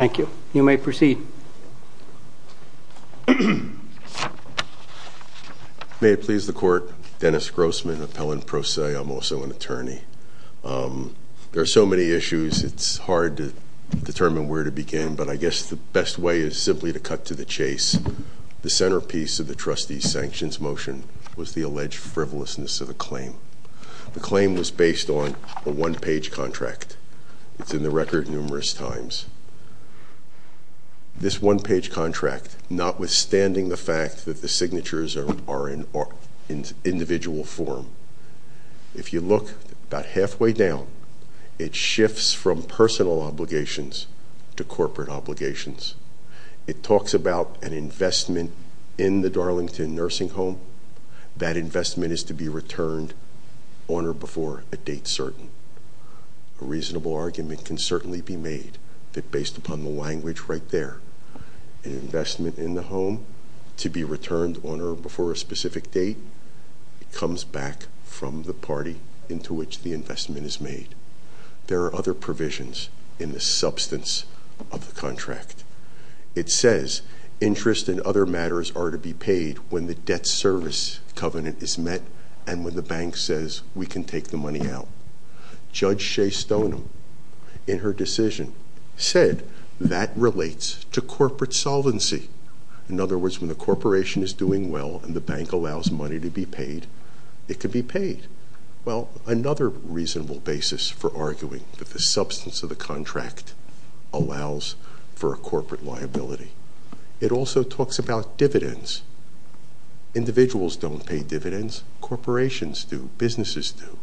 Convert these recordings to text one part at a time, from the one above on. May it please the court, Dennis Grossman, appellant pro se. I'm also an attorney. There are so many issues it's hard to determine where to begin, but I guess the best way is simply to cut to the chase. The centerpiece of the trustee's sanctions motion was the alleged frivolousness of the claim. The claim was based on a one-page contract. It's in the record numerous times. This one-page contract, notwithstanding the fact that the signatures are in individual form, if you look about halfway down, it shifts from personal obligations to corporate obligations. It talks about an investment in the Darlington nursing home. That investment is to be returned on or before a date certain. A reasonable argument can certainly be made that based upon the language right there, an investment in the home to be returned on or before a specific date comes back from the party into which the investment is made. There are other provisions in the substance of the contract. It says interest and other matters are to be paid when the debt service covenant is met and when the bank says we can take the money out. Judge Shea Stoneham, in her decision, said that relates to corporate solvency. In other words, when the corporation is doing well and the bank allows money to be paid, it can be paid. Well, another reasonable basis for arguing that the substance of the contract allows for a corporate liability. It also talks about dividends. Individuals don't pay dividends. Corporations do. Businesses do.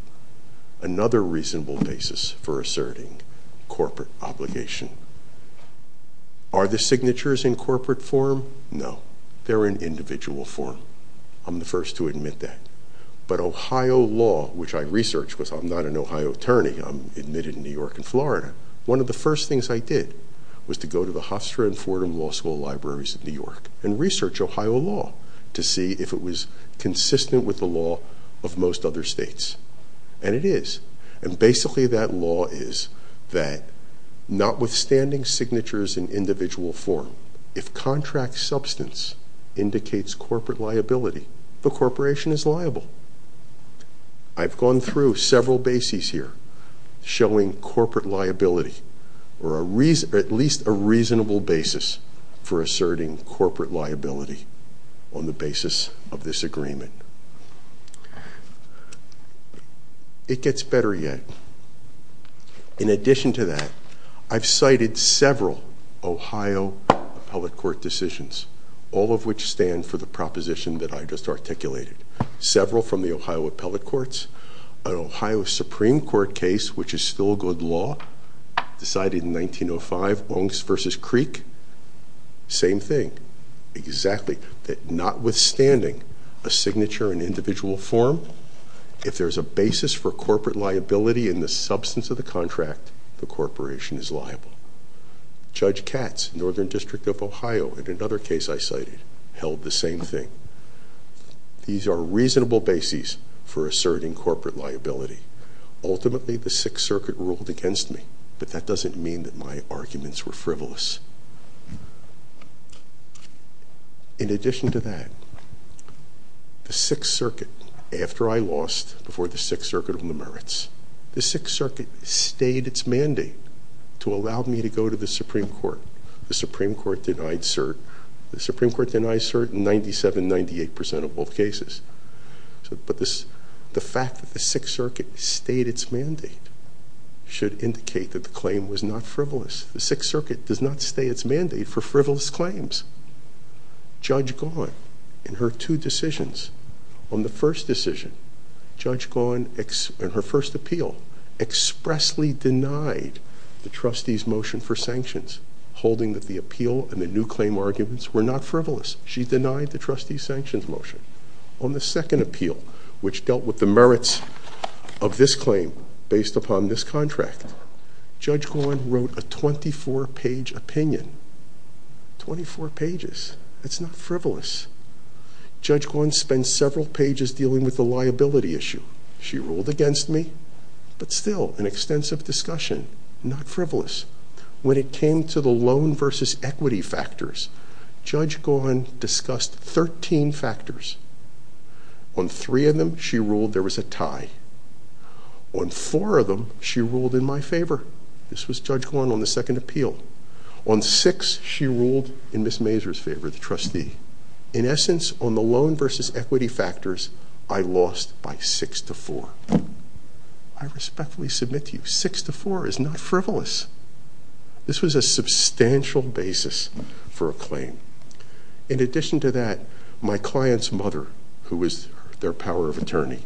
Another reasonable basis for asserting corporate obligation. Are the signatures in corporate form? No. They're in individual form. I'm the first to admit that. But Ohio law, which I researched because I'm not an Ohio attorney. I'm admitted in New York and Florida. One of the first things I did was to go to the Hofstra and Fordham Law School libraries in New York and research Ohio law to see if it was consistent with the law of most other states. And it is. And basically that law is that notwithstanding signatures in individual form, if contract substance indicates corporate liability, the corporation is liable. I've gone through several bases here showing corporate liability or at least a reasonable basis for asserting corporate liability on the basis of this agreement. It gets better yet. In addition to that, I've cited several Ohio Appellate Court decisions, all of which stand for the proposition that I just articulated. Several from the Ohio Appellate Courts. An Ohio Supreme Court case, which is still good law, decided in 1905, Ongs versus Creek. Same thing. Exactly. That notwithstanding a signature in individual form, if there's a basis for corporate liability in the substance of the contract, the corporation is liable. Judge Katz, Northern District of Ohio, in another case I cited, held the same thing. These are reasonable bases for asserting corporate liability. Ultimately, the Sixth Circuit ruled against me, but that doesn't mean that my arguments were frivolous. In addition to that, the Sixth Circuit, after I lost before the Sixth Circuit on the merits, the Sixth Circuit stayed its mandate to allow me to go to the Supreme Court. The Supreme Court denied cert. The Supreme Court denied cert in 97, 98 percent of both cases. But the fact that the Sixth Circuit stayed its mandate should indicate that the claim was not frivolous. The Sixth Circuit does not stay its mandate for frivolous claims. Judge Gawn, in her two decisions, on the first decision, Judge Gawn, in her first appeal, expressly denied the trustee's motion for sanctions, holding that the appeal and the new claim arguments were not frivolous. She denied the trustee's sanctions motion. On the second appeal, which dealt with the merits of this claim, based upon this contract, Judge Gawn wrote a 24-page opinion. Twenty-four pages. That's not frivolous. Judge Gawn spent several pages dealing with the liability issue. She ruled against me, but still an extensive discussion. Not frivolous. When it came to the loan versus equity factors, Judge Gawn discussed 13 factors. On three of them, she ruled there was a tie. On four of them, she ruled in my favor. This was Judge Gawn on the second appeal. On six, she ruled in Ms. Mazur's favor, the trustee. In essence, on the loan versus equity factors, I lost by six to four. I respectfully submit to you, six to four is not frivolous. This was a substantial basis for a claim. In addition to that, my client's mother, who is their power of attorney,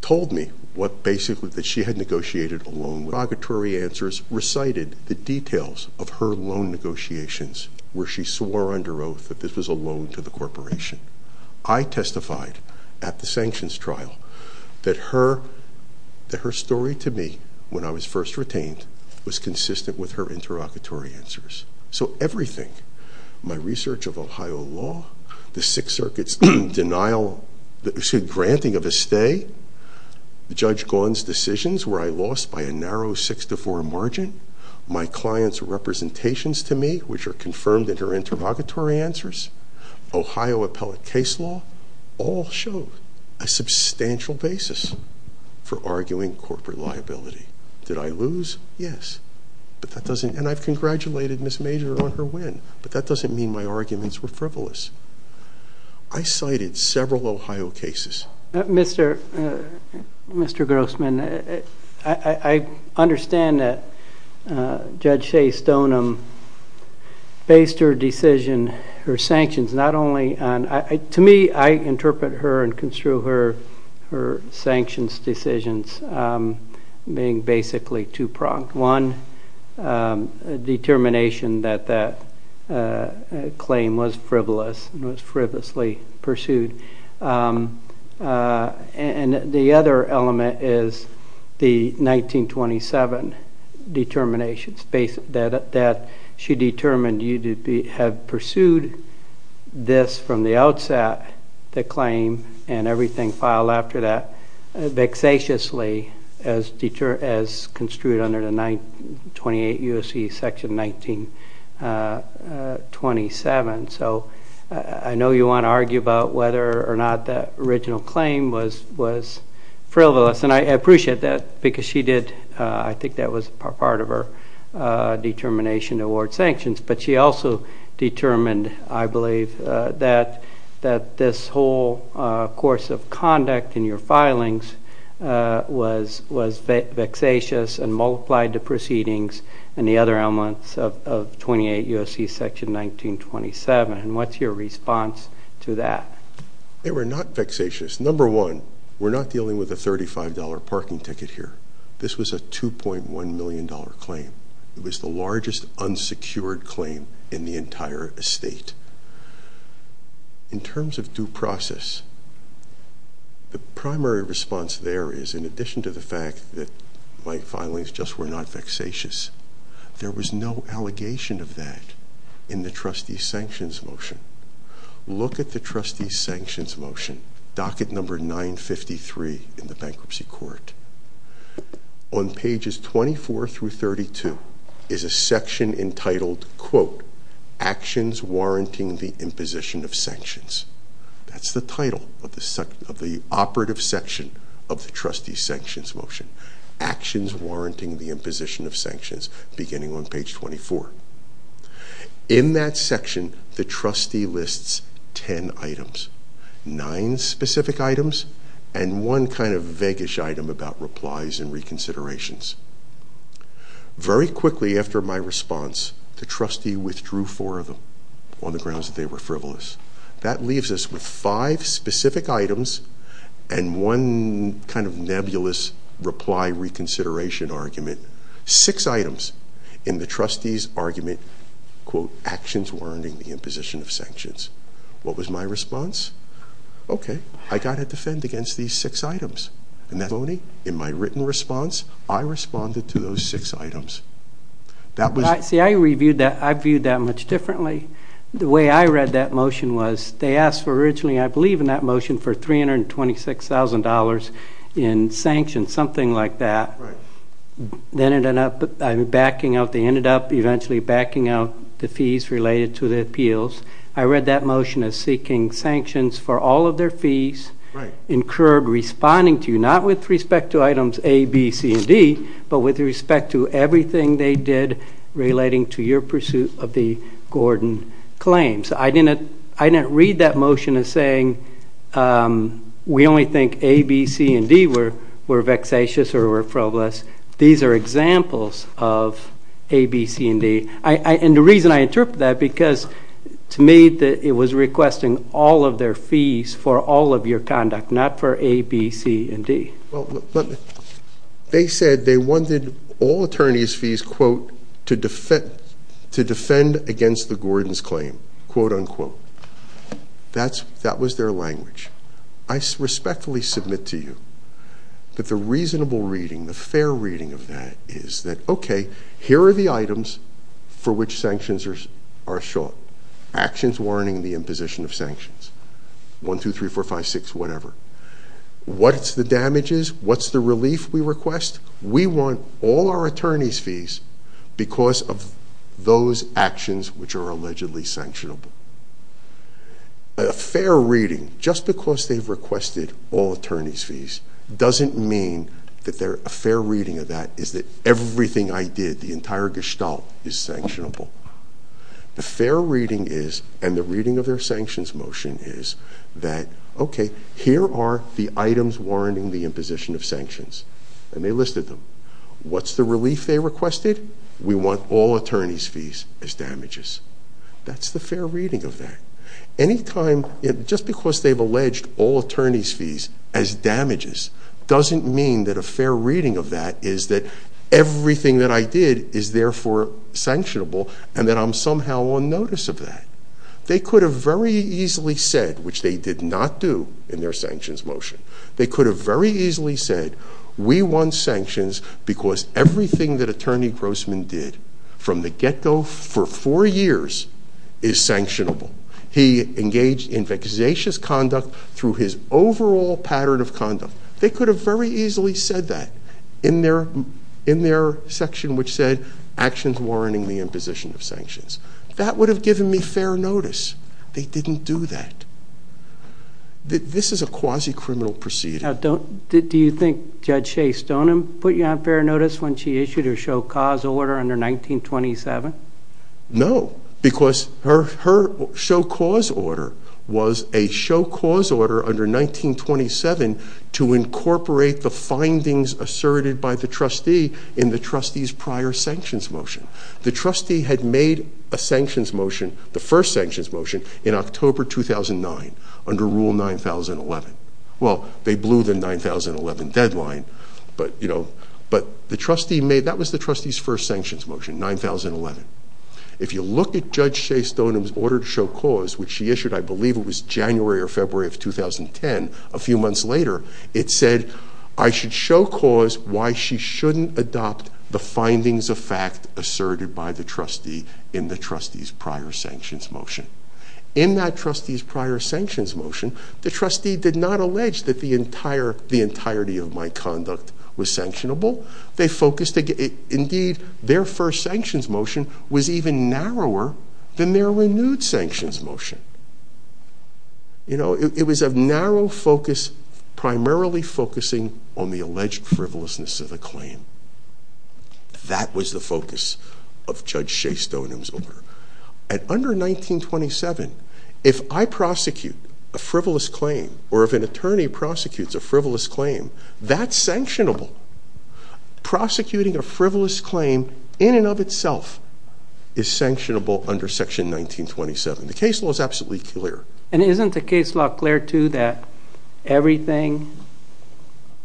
told me that she had negotiated a loan. Her interrogatory answers recited the details of her loan negotiations, where she swore under oath that this was a loan to the corporation. I testified at the sanctions trial that her story to me, when I was first retained, was consistent with her interrogatory answers. Everything, my research of Ohio law, the Sixth Circuit's granting of a stay, Judge Gawn's decisions where I lost by a narrow six to four margin, my client's representations to me, which are confirmed in her interrogatory answers, Ohio appellate case law, all show a substantial basis for arguing corporate liability. Did I lose? Yes. I've congratulated Ms. Mazur on her win, but that doesn't mean my arguments were frivolous. I cited several Ohio cases. Mr. Grossman, I understand that Judge Shea Stoneham based her decision, her sanctions, not only on—to me, I interpret her and construe her sanctions decisions being basically two-pronged. One determination that that claim was frivolous and was frivolously pursued. And the other element is the 1927 determination that she determined you had pursued this from the outset, the claim, and everything filed after that, as construed under the 28 U.S.C. Section 1927. So I know you want to argue about whether or not that original claim was frivolous, and I appreciate that because she did—I think that was part of her determination to award sanctions. But she also determined, I believe, that this whole course of conduct in your filings was vexatious and multiplied the proceedings and the other elements of 28 U.S.C. Section 1927. And what's your response to that? They were not vexatious. Number one, we're not dealing with a $35 parking ticket here. This was a $2.1 million claim. It was the largest unsecured claim in the entire estate. In terms of due process, the primary response there is, in addition to the fact that my filings just were not vexatious, there was no allegation of that in the trustee sanctions motion. Look at the trustee sanctions motion, docket number 953 in the Bankruptcy Court. On pages 24 through 32 is a section entitled, quote, actions warranting the imposition of sanctions. That's the title of the operative section of the trustee sanctions motion, actions warranting the imposition of sanctions, beginning on page 24. In that section, the trustee lists ten items, nine specific items and one kind of vague-ish item about replies and reconsiderations. Very quickly after my response, the trustee withdrew four of them on the grounds that they were frivolous. That leaves us with five specific items and one kind of nebulous reply reconsideration argument. Six items in the trustee's argument, quote, actions warranting the imposition of sanctions. What was my response? Okay, I got to defend against these six items. Not only in my written response, I responded to those six items. See, I viewed that much differently. The way I read that motion was they asked originally, I believe in that motion, for $326,000 in sanctions, something like that. Then it ended up backing out, they ended up eventually backing out the fees related to the appeals. I read that motion as seeking sanctions for all of their fees incurred responding to you, not with respect to items A, B, C, and D, but with respect to everything they did relating to your pursuit of the Gordon claims. I didn't read that motion as saying we only think A, B, C, and D were vexatious or were frivolous. These are examples of A, B, C, and D. And the reason I interpret that, because to me it was requesting all of their fees for all of your conduct, not for A, B, C, and D. They said they wanted all attorney's fees, quote, to defend against the Gordon's claim, quote, unquote. That was their language. I respectfully submit to you that the reasonable reading, the fair reading of that is that, okay, here are the items for which sanctions are short. Actions warning the imposition of sanctions. One, two, three, four, five, six, whatever. What's the damages? What's the relief we request? We want all our attorney's fees because of those actions which are allegedly sanctionable. A fair reading, just because they've requested all attorney's fees, doesn't mean that a fair reading of that is that everything I did, the entire gestalt, is sanctionable. The fair reading is, and the reading of their sanctions motion is that, okay, here are the items warning the imposition of sanctions. And they listed them. What's the relief they requested? We want all attorney's fees as damages. That's the fair reading of that. Anytime, just because they've alleged all attorney's fees as damages doesn't mean that a fair reading of that is that everything that I did is therefore sanctionable and that I'm somehow on notice of that. They could have very easily said, which they did not do in their sanctions motion, they could have very easily said, we want sanctions because everything that Attorney Grossman did from the get-go for four years is sanctionable. He engaged in vexatious conduct through his overall pattern of conduct. They could have very easily said that in their section which said, actions warning the imposition of sanctions. That would have given me fair notice. They didn't do that. This is a quasi-criminal proceeding. Now, do you think Judge Shea Stoneham put you on fair notice when she issued her show cause order under 1927? No, because her show cause order was a show cause order under 1927 to incorporate the findings asserted by the trustee in the trustee's prior sanctions motion. The trustee had made a sanctions motion, the first sanctions motion, in October 2009 under Rule 9011. Well, they blew the 9011 deadline, but the trustee made, that was the trustee's first sanctions motion, 9011. If you look at Judge Shea Stoneham's order to show cause, which she issued, I believe it was January or February of 2010, a few months later, it said, I should show cause why she shouldn't adopt the findings of fact asserted by the trustee in the trustee's prior sanctions motion. In that trustee's prior sanctions motion, the trustee did not allege that the entirety of my conduct was sanctionable. Indeed, their first sanctions motion was even narrower than their renewed sanctions motion. You know, it was a narrow focus primarily focusing on the alleged frivolousness of the claim. That was the focus of Judge Shea Stoneham's order. And under 1927, if I prosecute a frivolous claim or if an attorney prosecutes a frivolous claim, that's sanctionable. Prosecuting a frivolous claim in and of itself is sanctionable under Section 1927. The case law is absolutely clear. And isn't the case law clear, too, that everything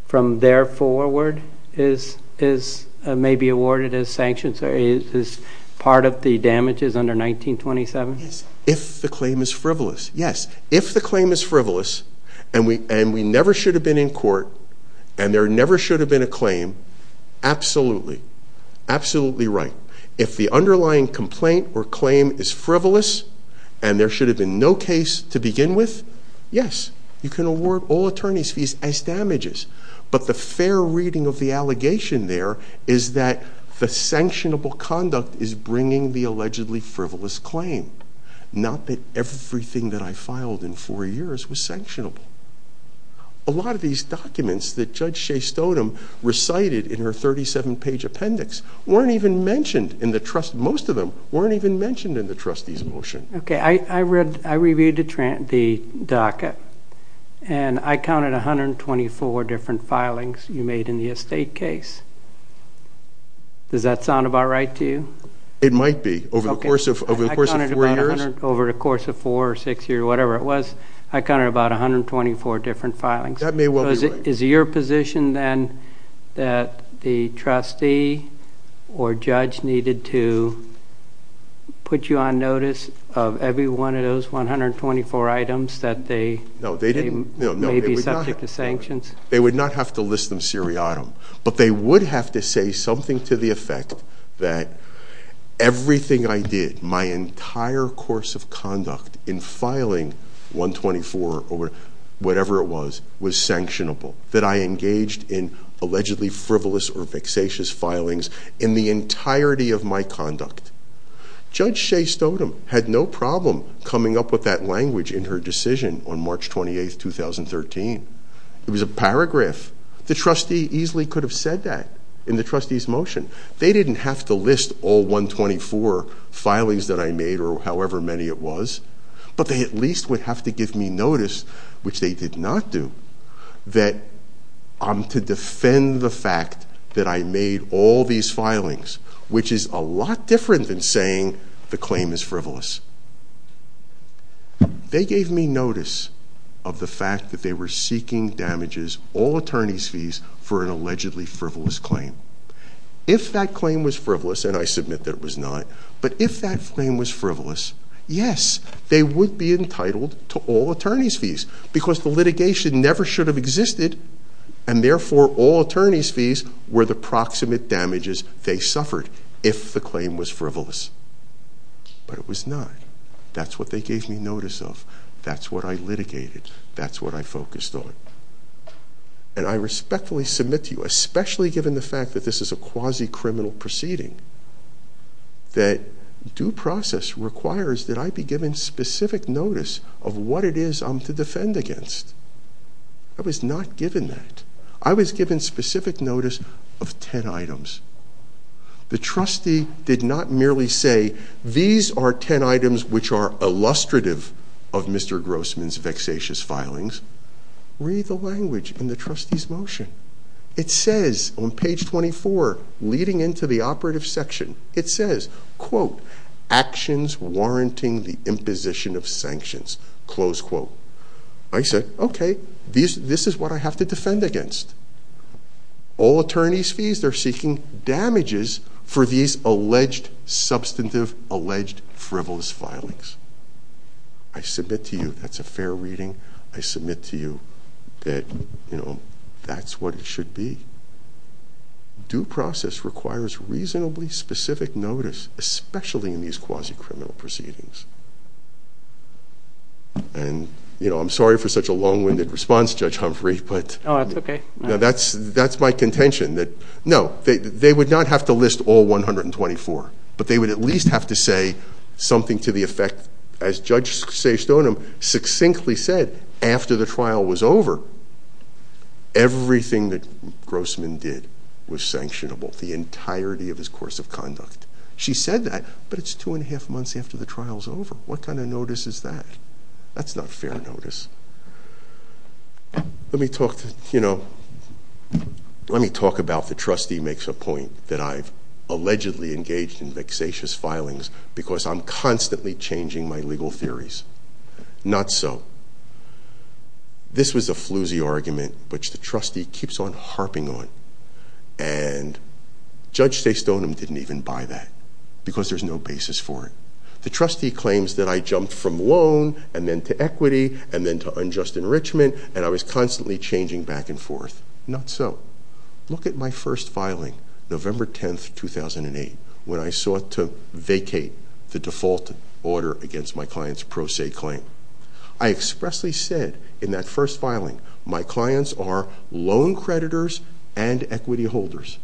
from there forward is maybe awarded as sanctions or is part of the damages under 1927? Yes, if the claim is frivolous. Yes. If the claim is frivolous and we never should have been in court and there never should have been a claim, absolutely. Absolutely right. If the underlying complaint or claim is frivolous and there should have been no case to begin with, yes, you can award all attorney's fees as damages. But the fair reading of the allegation there is that the sanctionable conduct is bringing the allegedly frivolous claim, not that everything that I filed in four years was sanctionable. A lot of these documents that Judge Shea Stodem recited in her 37-page appendix weren't even mentioned in the trust. Most of them weren't even mentioned in the trustee's motion. Okay, I reviewed the docket and I counted 124 different filings you made in the estate case. Does that sound about right to you? It might be. Over the course of four years? Over the course of four or six years, whatever it was, I counted about 124 different filings. That may well be right. Is it your position then that the trustee or judge needed to put you on notice of every one of those 124 items that they may be subject to sanctions? They would not have to list them seriatim, but they would have to say something to the effect that everything I did, my entire course of conduct in filing 124 or whatever it was, was sanctionable, that I engaged in allegedly frivolous or vexatious filings in the entirety of my conduct. Judge Shea Stodem had no problem coming up with that language in her decision on March 28, 2013. It was a paragraph. The trustee easily could have said that in the trustee's motion. They didn't have to list all 124 filings that I made or however many it was, but they at least would have to give me notice, which they did not do, that I'm to defend the fact that I made all these filings, which is a lot different than saying the claim is frivolous. They gave me notice of the fact that they were seeking damages, all attorney's fees, for an allegedly frivolous claim. If that claim was frivolous, and I submit that it was not, but if that claim was frivolous, yes, they would be entitled to all attorney's fees because the litigation never should have existed and therefore all attorney's fees were the proximate damages they suffered if the claim was frivolous. But it was not. That's what they gave me notice of. That's what I litigated. That's what I focused on. And I respectfully submit to you, especially given the fact that this is a quasi-criminal proceeding, that due process requires that I be given specific notice of what it is I'm to defend against. I was not given that. I was given specific notice of 10 items. The trustee did not merely say, these are 10 items which are illustrative of Mr. Grossman's vexatious filings. Read the language in the trustee's motion. It says on page 24, leading into the operative section, it says, quote, actions warranting the imposition of sanctions, close quote. I said, okay, this is what I have to defend against. All attorney's fees, they're seeking damages for these alleged substantive, alleged frivolous filings. I submit to you that's a fair reading. I submit to you that, you know, that's what it should be. Due process requires reasonably specific notice, especially in these quasi-criminal proceedings. And, you know, I'm sorry for such a long-winded response, Judge Humphrey. Oh, that's okay. No, that's my contention. No, they would not have to list all 124, but they would at least have to say something to the effect, as Judge Sejstonim succinctly said, after the trial was over, everything that Grossman did was sanctionable, the entirety of his course of conduct. She said that, but it's two and a half months after the trial's over. What kind of notice is that? That's not fair notice. Let me talk, you know, let me talk about the trustee makes a point that I've allegedly engaged in vexatious filings because I'm constantly changing my legal theories. Not so. This was a floozy argument, which the trustee keeps on harping on, and Judge Sejstonim didn't even buy that because there's no basis for it. The trustee claims that I jumped from loan and then to equity and then to unjust enrichment, and I was constantly changing back and forth. Not so. Look at my first filing, November 10, 2008, when I sought to vacate the default order against my client's pro se claim. I expressly said in that first filing, my clients are loan creditors and equity holders.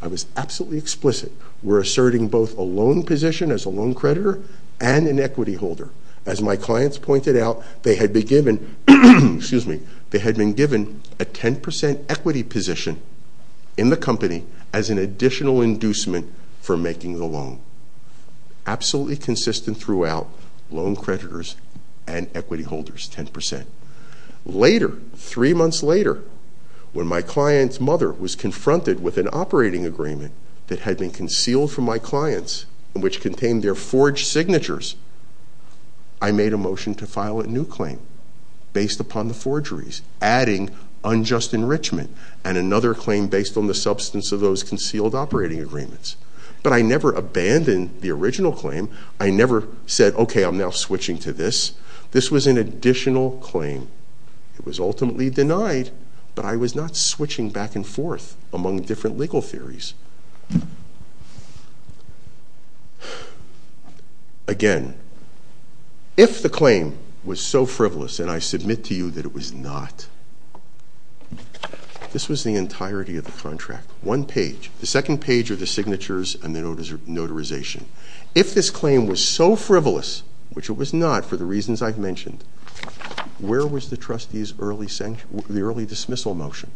I was absolutely explicit. We're asserting both a loan position as a loan creditor and an equity holder. As my clients pointed out, they had been given a 10% equity position in the company as an additional inducement for making the loan. Absolutely consistent throughout, loan creditors and equity holders, 10%. Later, three months later, when my client's mother was confronted with an operating agreement that had been concealed from my clients and which contained their forged signatures, I made a motion to file a new claim based upon the forgeries, adding unjust enrichment and another claim based on the substance of those concealed operating agreements. But I never abandoned the original claim. I never said, okay, I'm now switching to this. This was an additional claim. It was ultimately denied, but I was not switching back and forth among different legal theories. Again, if the claim was so frivolous, and I submit to you that it was not, this was the entirety of the contract, one page. The second page are the signatures and the notarization. If this claim was so frivolous, which it was not for the reasons I've mentioned, where was the trustee's early dismissal motion?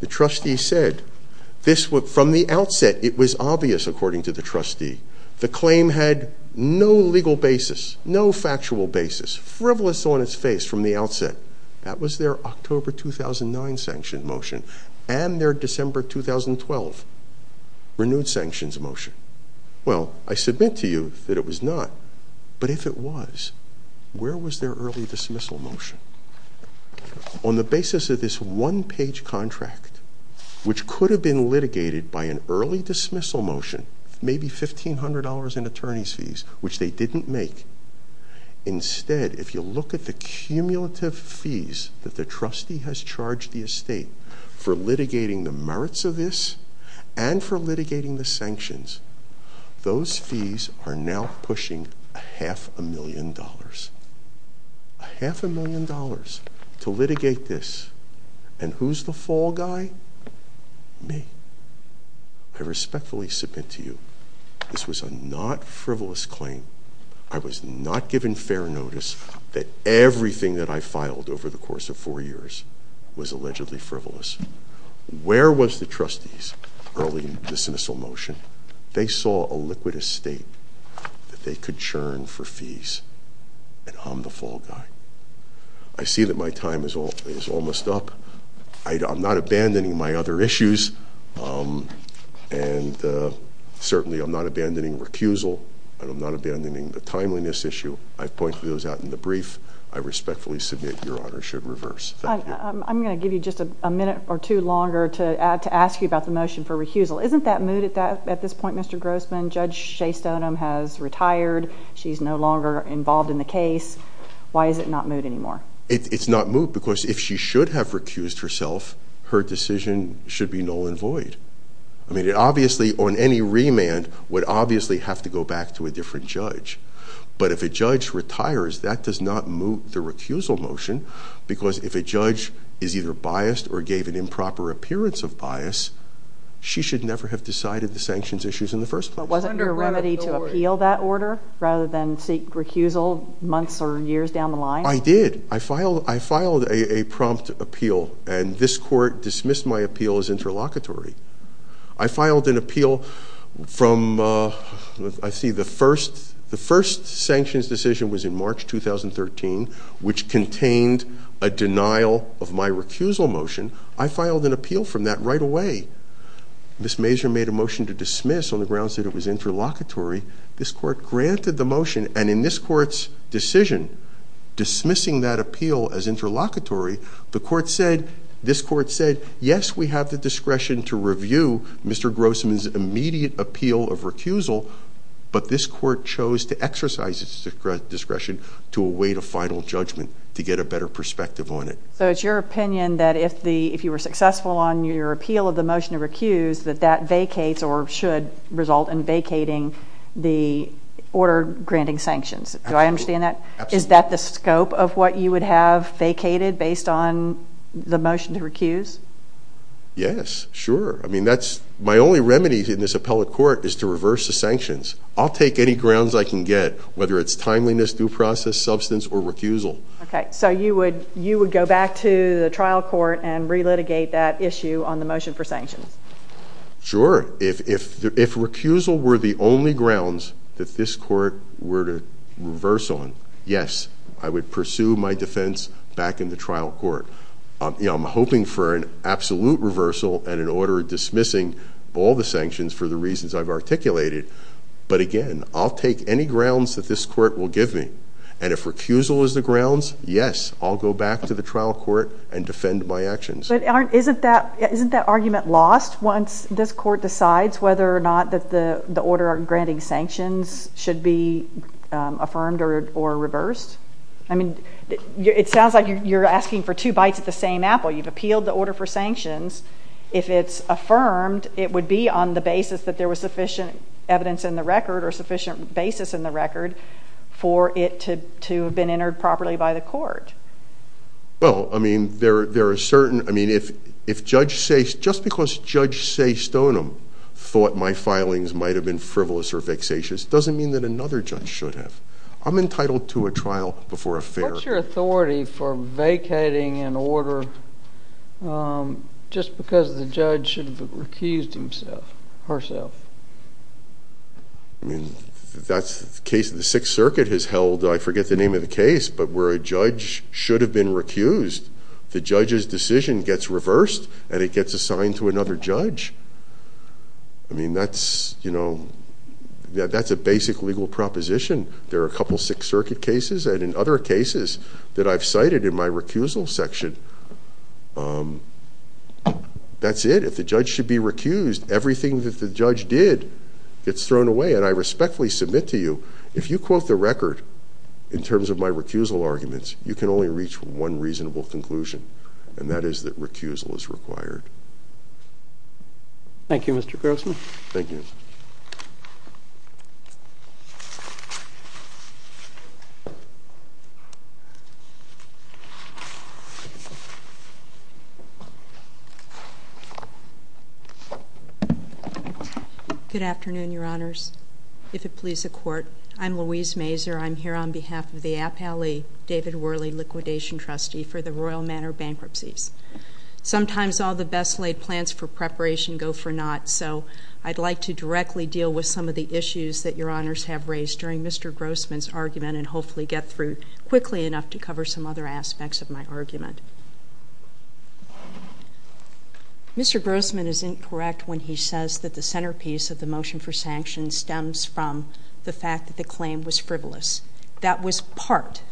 The trustee said, from the outset, it was obvious, according to the trustee, the claim had no legal basis, no factual basis, frivolous on its face from the outset. That was their October 2009 sanction motion and their December 2012 renewed sanctions motion. Well, I submit to you that it was not, but if it was, where was their early dismissal motion? On the basis of this one-page contract, which could have been litigated by an early dismissal motion, maybe $1,500 in attorney's fees, which they didn't make, instead, if you look at the cumulative fees that the trustee has charged the estate for litigating the merits of this and for litigating the sanctions, those fees are now pushing a half a million dollars. A half a million dollars to litigate this, and who's the fall guy? Me. I respectfully submit to you, this was a not frivolous claim. I was not given fair notice that everything that I filed over the course of four years was allegedly frivolous. Where was the trustee's early dismissal motion? They saw a liquid estate that they could churn for fees, and I'm the fall guy. I see that my time is almost up. I'm not abandoning my other issues, and certainly I'm not abandoning recusal, and I'm not abandoning the timeliness issue. I've pointed those out in the brief. I respectfully submit your Honor should reverse. Thank you. I'm going to give you just a minute or two longer to ask you about the motion for recusal. Isn't that moot at this point, Mr. Grossman? Judge Shea Stoneham has retired. She's no longer involved in the case. Why is it not moot anymore? It's not moot because if she should have recused herself, her decision should be null and void. I mean, obviously on any remand would obviously have to go back to a different judge. But if a judge retires, that does not moot the recusal motion because if a judge is either biased or gave an improper appearance of bias, she should never have decided the sanctions issues in the first place. Wasn't there a remedy to appeal that order rather than seek recusal months or years down the line? I did. I filed a prompt appeal, and this court dismissed my appeal as interlocutory. I filed an appeal from the first sanctions decision was in March 2013, which contained a denial of my recusal motion. I filed an appeal from that right away. Ms. Mazur made a motion to dismiss on the grounds that it was interlocutory. This court granted the motion, and in this court's decision dismissing that appeal as interlocutory, this court said, yes, we have the discretion to review Mr. Grossman's immediate appeal of recusal, but this court chose to exercise its discretion to await a final judgment to get a better perspective on it. So it's your opinion that if you were successful on your appeal of the motion to recuse, that that vacates or should result in vacating the order granting sanctions. Absolutely. Do I understand that? Absolutely. Is that the scope of what you would have vacated based on the motion to recuse? Yes, sure. I mean, my only remedy in this appellate court is to reverse the sanctions. I'll take any grounds I can get, whether it's timeliness, due process, substance, or recusal. Okay. So you would go back to the trial court and relitigate that issue on the motion for sanctions? Sure. If recusal were the only grounds that this court were to reverse on, yes, I would pursue my defense back in the trial court. I'm hoping for an absolute reversal and an order dismissing all the sanctions for the reasons I've articulated. But, again, I'll take any grounds that this court will give me. And if recusal is the grounds, yes, I'll go back to the trial court and defend my actions. But isn't that argument lost once this court decides whether or not the order granting sanctions should be affirmed or reversed? I mean, it sounds like you're asking for two bites at the same apple. You've appealed the order for sanctions. If it's affirmed, it would be on the basis that there was sufficient evidence in the record or sufficient basis in the record for it to have been entered properly by the court. Well, I mean, there are certain—I mean, if Judge Saystonem thought my filings might have been frivolous or vexatious, it doesn't mean that another judge should have. I'm entitled to a trial before a fair— What's your authority for vacating an order just because the judge should have recused herself? I mean, that's the case the Sixth Circuit has held. I forget the name of the case, but where a judge should have been recused, the judge's decision gets reversed, and it gets assigned to another judge. I mean, that's a basic legal proposition. There are a couple Sixth Circuit cases, and in other cases that I've cited in my recusal section, that's it. If the judge should be recused, everything that the judge did gets thrown away, and I respectfully submit to you, if you quote the record in terms of my recusal arguments, you can only reach one reasonable conclusion, and that is that recusal is required. Thank you, Mr. Grossman. Thank you. Good afternoon, Your Honors. If it please the Court, I'm Louise Mazur. I'm here on behalf of the Appellee David Worley Liquidation Trustee for the Royal Manor Bankruptcies. Sometimes all the best-laid plans for preparation go for naught, so I'd like to directly deal with some of the issues that Your Honors have raised during Mr. Grossman's argument and hopefully get through quickly enough to cover some other aspects of my argument. Mr. Grossman is incorrect when he says that the centerpiece of the motion for sanction stems from the fact that the claim was frivolous. That was part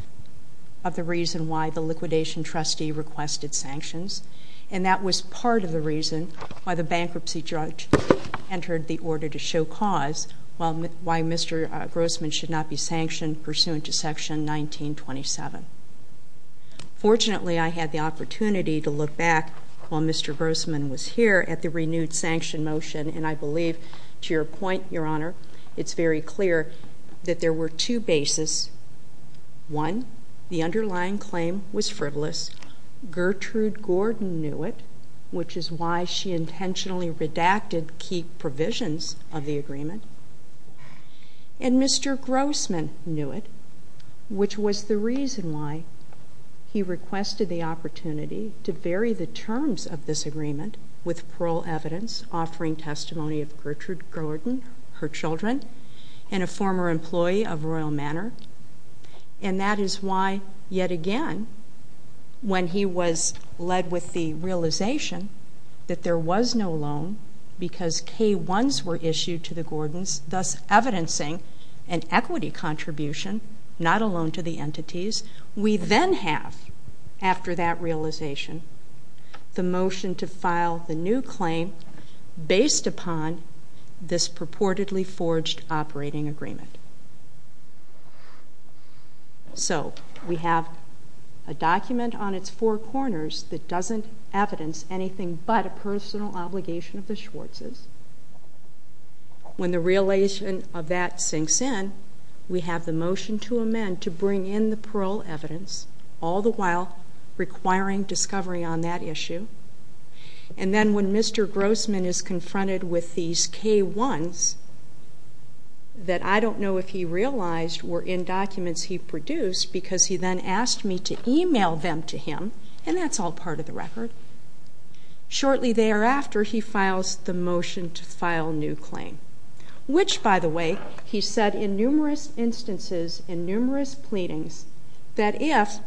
of the reason why the liquidation trustee requested sanctions, and that was part of the reason why the bankruptcy judge entered the order to show cause, while Mr. Grossman should not be sanctioned pursuant to Section 1927. Fortunately, I had the opportunity to look back while Mr. Grossman was here at the renewed sanction motion, and I believe, to your point, Your Honor, it's very clear that there were two bases. One, the underlying claim was frivolous. Gertrude Gordon knew it, which is why she intentionally redacted key provisions of the agreement. And Mr. Grossman knew it, which was the reason why he requested the opportunity to vary the terms of this agreement with parole evidence offering testimony of Gertrude Gordon, her children, and a former employee of Royal Manor. And that is why, yet again, when he was led with the realization that there was no loan because K-1s were issued to the Gordons, thus evidencing an equity contribution, not a loan to the entities, we then have, after that realization, the motion to file the new claim based upon this purportedly forged operating agreement. So, we have a document on its four corners that doesn't evidence anything but a personal obligation of the Schwartz's. When the realization of that sinks in, we have the motion to amend to bring in the parole evidence, all the while requiring discovery on that issue. And then when Mr. Grossman is confronted with these K-1s that I don't know if he realized were in documents he produced because he then asked me to email them to him, and that's all part of the record, shortly thereafter he files the motion to file new claim. Which, by the way, he said in numerous instances, in numerous pleadings, that if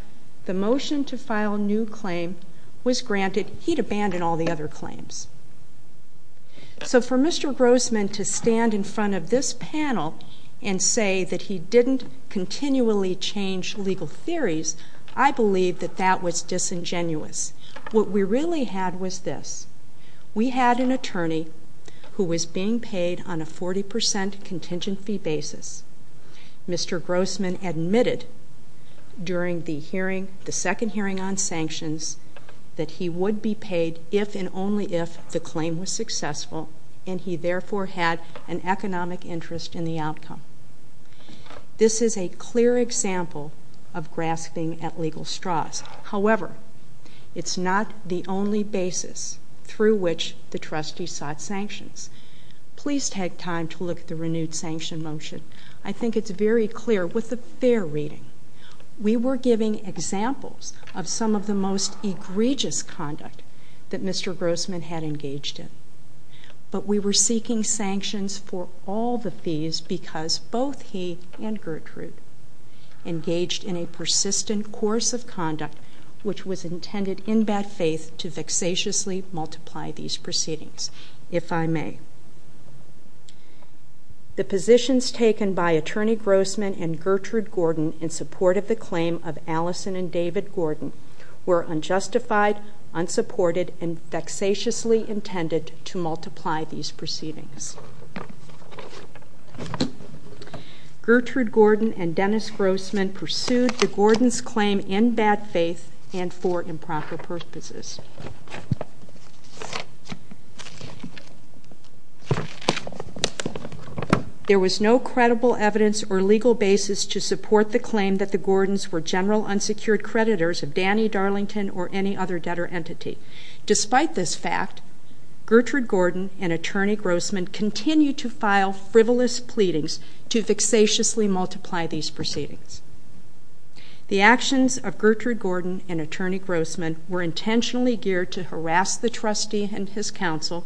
the motion to file new claim was granted, he'd abandon all the other claims. So, for Mr. Grossman to stand in front of this panel and say that he didn't continually change legal theories, I believe that that was disingenuous. What we really had was this. We had an attorney who was being paid on a 40% contingent fee basis. Mr. Grossman admitted during the hearing, the second hearing on sanctions, that he would be paid if and only if the claim was successful, and he therefore had an economic interest in the outcome. This is a clear example of grasping at legal straws. However, it's not the only basis through which the trustee sought sanctions. Please take time to look at the renewed sanction motion. I think it's very clear with a fair reading. We were giving examples of some of the most egregious conduct that Mr. Grossman had engaged in, but we were seeking sanctions for all the fees because both he and Gertrude engaged in a persistent course of conduct which was intended in bad faith to vexatiously multiply these proceedings. If I may. The positions taken by Attorney Grossman and Gertrude Gordon in support of the claim of Allison and David Gordon were unjustified, unsupported, and vexatiously intended to multiply these proceedings. Gertrude Gordon and Dennis Grossman pursued the Gordons' claim in bad faith and for improper purposes. There was no credible evidence or legal basis to support the claim that the Gordons were general unsecured creditors of Danny Darlington or any other debtor entity. Despite this fact, Gertrude Gordon and Attorney Grossman continued to file frivolous pleadings to vexatiously multiply these proceedings. The actions of Gertrude Gordon and Attorney Grossman were intentionally geared to harass the trustee and his counsel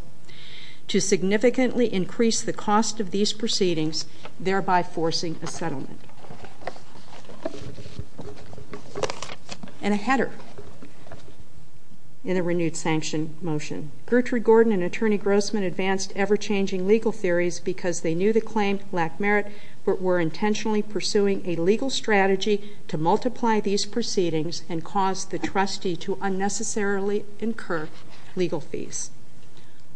to significantly increase the cost of these proceedings, thereby forcing a settlement. And a header in a renewed sanction motion. Gertrude Gordon and Attorney Grossman advanced ever-changing legal theories because they knew the claim lacked merit but were intentionally pursuing a legal strategy to multiply these proceedings and cause the trustee to unnecessarily incur legal fees.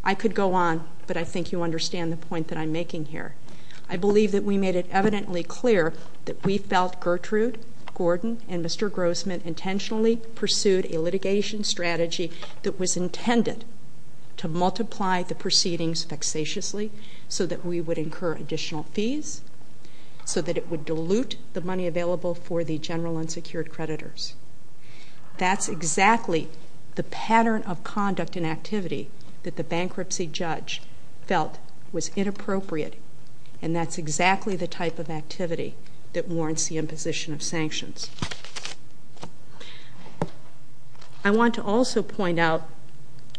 I could go on, but I think you understand the point that I'm making here. I believe that we made it evidently clear that we felt Gertrude Gordon and Mr. Grossman intentionally pursued a litigation strategy that was intended to multiply the proceedings vexatiously so that we would incur additional fees, so that it would dilute the money available for the general unsecured creditors. That's exactly the pattern of conduct and activity that the bankruptcy judge felt was inappropriate, and that's exactly the type of activity that warrants the imposition of sanctions. I want to also point out,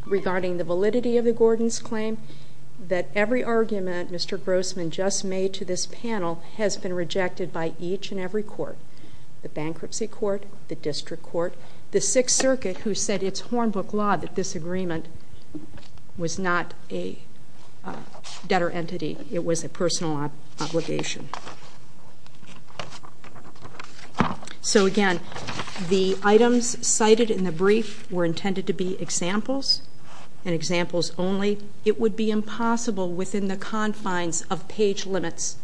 regarding the validity of the Gordons' claim, that every argument Mr. Grossman just made to this panel has been rejected by each and every court. The bankruptcy court, the district court, the Sixth Circuit, who said it's hornbook law that this agreement was not a debtor entity, it was a personal obligation. So again, the items cited in the brief were intended to be examples and examples only. It would be impossible within the confines of page limits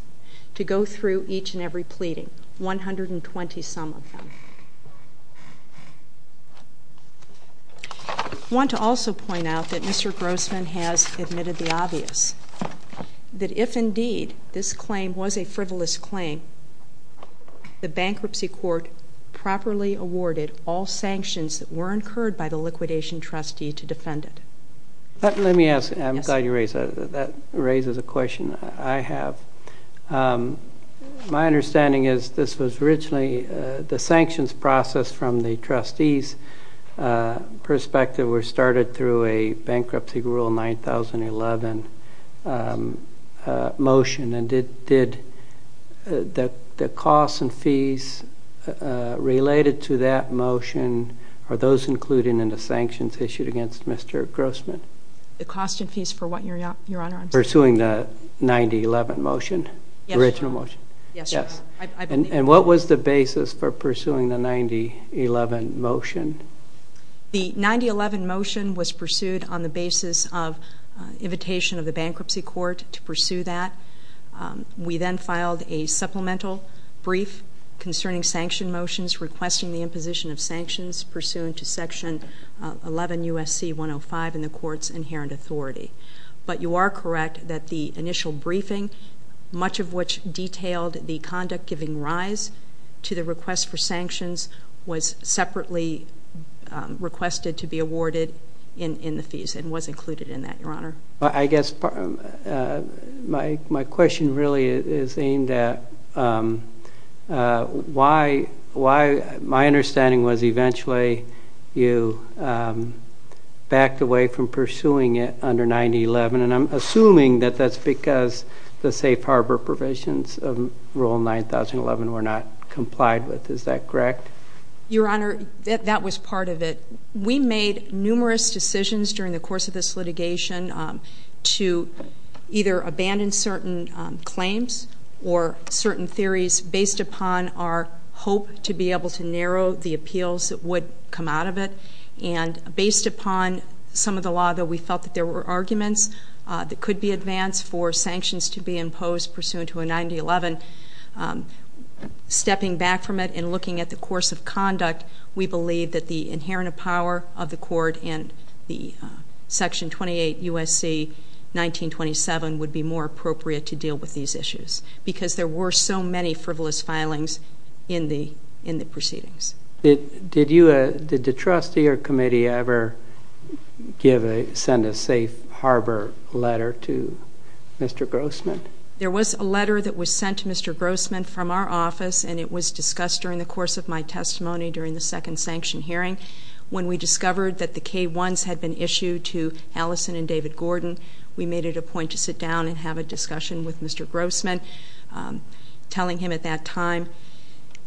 to go through each and every pleading. 120 some of them. I want to also point out that Mr. Grossman has admitted the obvious, that if indeed this claim was a frivolous claim, the bankruptcy court properly awarded all sanctions that were incurred by the liquidation trustee to defend it. Let me ask, I'm glad you raised that. That raises a question I have. My understanding is this was originally the sanctions process from the trustee's perspective were started through a bankruptcy rule 9011 motion. And did the costs and fees related to that motion, are those included in the sanctions issued against Mr. Grossman? The costs and fees for what, Your Honor? Pursuing the 9011 motion, original motion? Yes, Your Honor. And what was the basis for pursuing the 9011 motion? The 9011 motion was pursued on the basis of invitation of the bankruptcy court to pursue that. We then filed a supplemental brief concerning sanction motions, requesting the imposition of sanctions pursuant to section 11 U.S.C. 105 in the court's inherent authority. But you are correct that the initial briefing, much of which detailed the conduct giving rise to the request for sanctions, was separately requested to be awarded in the fees and was included in that, Your Honor. I guess my question really is aimed at why, my understanding was eventually you backed away from pursuing it under 9011, and I'm assuming that that's because the safe harbor provisions of Rule 9011 were not complied with. Is that correct? Your Honor, that was part of it. We made numerous decisions during the course of this litigation to either abandon certain claims or certain theories based upon our hope to be able to narrow the appeals that would come out of it. And based upon some of the law that we felt that there were arguments that could be advanced for sanctions to be imposed pursuant to a 9011, stepping back from it and looking at the course of conduct, we believe that the inherent power of the court in section 28 U.S.C. 1927 would be more appropriate to deal with these issues because there were so many frivolous filings in the proceedings. Did the trustee or committee ever send a safe harbor letter to Mr. Grossman? There was a letter that was sent to Mr. Grossman from our office, and it was discussed during the course of my testimony during the second sanction hearing. When we discovered that the K-1s had been issued to Allison and David Gordon, we made it a point to sit down and have a discussion with Mr. Grossman, telling him at that time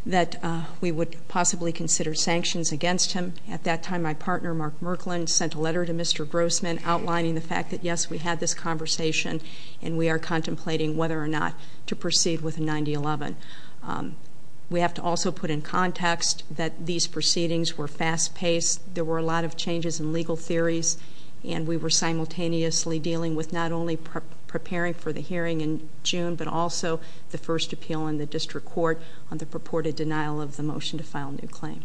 that we would possibly consider sanctions against him. At that time, my partner, Mark Merklin, sent a letter to Mr. Grossman outlining the fact that, yes, we had this conversation and we are contemplating whether or not to proceed with 9011. We have to also put in context that these proceedings were fast-paced. There were a lot of changes in legal theories, and we were simultaneously dealing with not only preparing for the hearing in June but also the first appeal in the district court on the purported denial of the motion to file a new claim.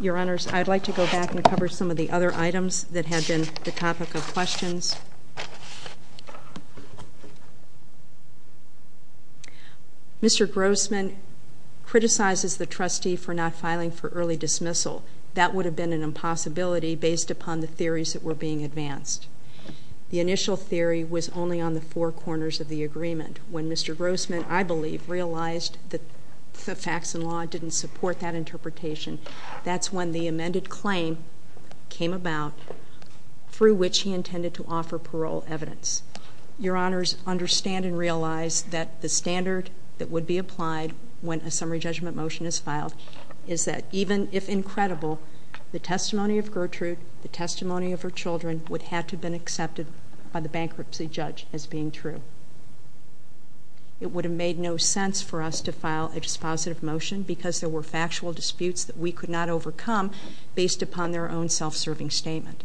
Your Honors, I'd like to go back and cover some of the other items that have been the topic of questions. Mr. Grossman criticizes the trustee for not filing for early dismissal. That would have been an impossibility based upon the theories that were being advanced. The initial theory was only on the four corners of the agreement when Mr. Grossman, I believe, realized that the facts and law didn't support that interpretation. That's when the amended claim came about, through which he intended to offer parole evidence. Your Honors, understand and realize that the standard that would be applied when a summary judgment motion is filed is that even if incredible, the testimony of Gertrude, the testimony of her children, would have to have been accepted by the bankruptcy judge as being true. It would have made no sense for us to file a dispositive motion because there were factual disputes that we could not overcome based upon their own self-serving statement.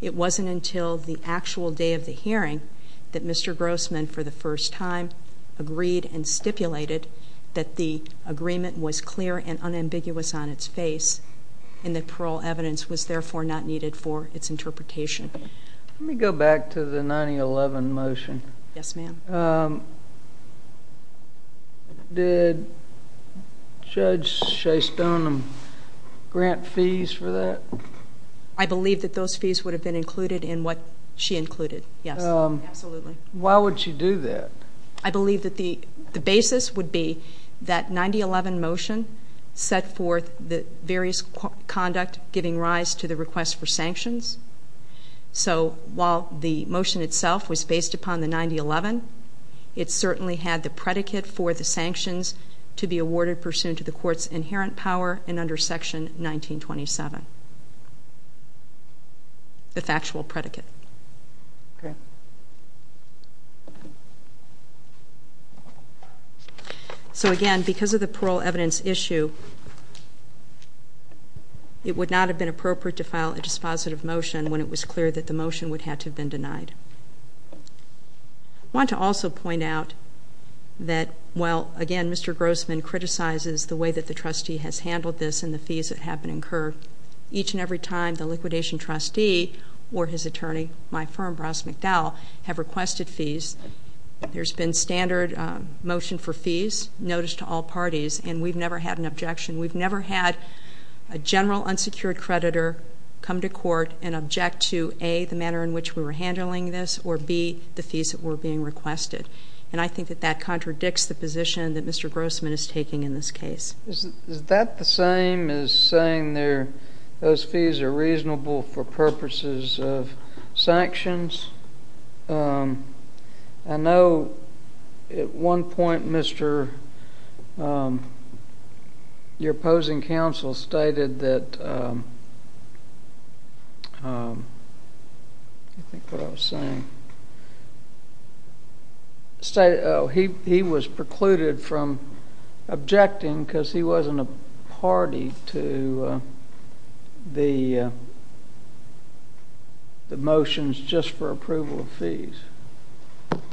It wasn't until the actual day of the hearing that Mr. Grossman, for the first time, agreed and stipulated that the agreement was clear and unambiguous on its face and that parole evidence was therefore not needed for its interpretation. Let me go back to the 9011 motion. Yes, ma'am. Did Judge Shea Stone grant fees for that? I believe that those fees would have been included in what she included, yes. Absolutely. Why would she do that? I believe that the basis would be that 9011 motion set forth the various conduct giving rise to the request for sanctions. So while the motion itself was based upon the 9011, it certainly had the predicate for the sanctions to be awarded pursuant to the court's inherent power and under Section 1927, the factual predicate. Okay. So again, because of the parole evidence issue, it would not have been appropriate to file a dispositive motion when it was clear that the motion would have to have been denied. I want to also point out that while, again, Mr. Grossman criticizes the way that the trustee has handled this and the fees that have been incurred, each and every time the liquidation trustee or his attorney, my firm, Bross McDowell, have requested fees, there's been standard motion for fees, notice to all parties, and we've never had an objection. We've never had a general unsecured creditor come to court and object to, A, the manner in which we were handling this, or, B, the fees that were being requested. And I think that that contradicts the position that Mr. Grossman is taking in this case. Is that the same as saying those fees are reasonable for purposes of sanctions? I know at one point your opposing counsel stated that I think what I was saying, he was precluded from objecting because he wasn't a party to the motions just for approval of fees.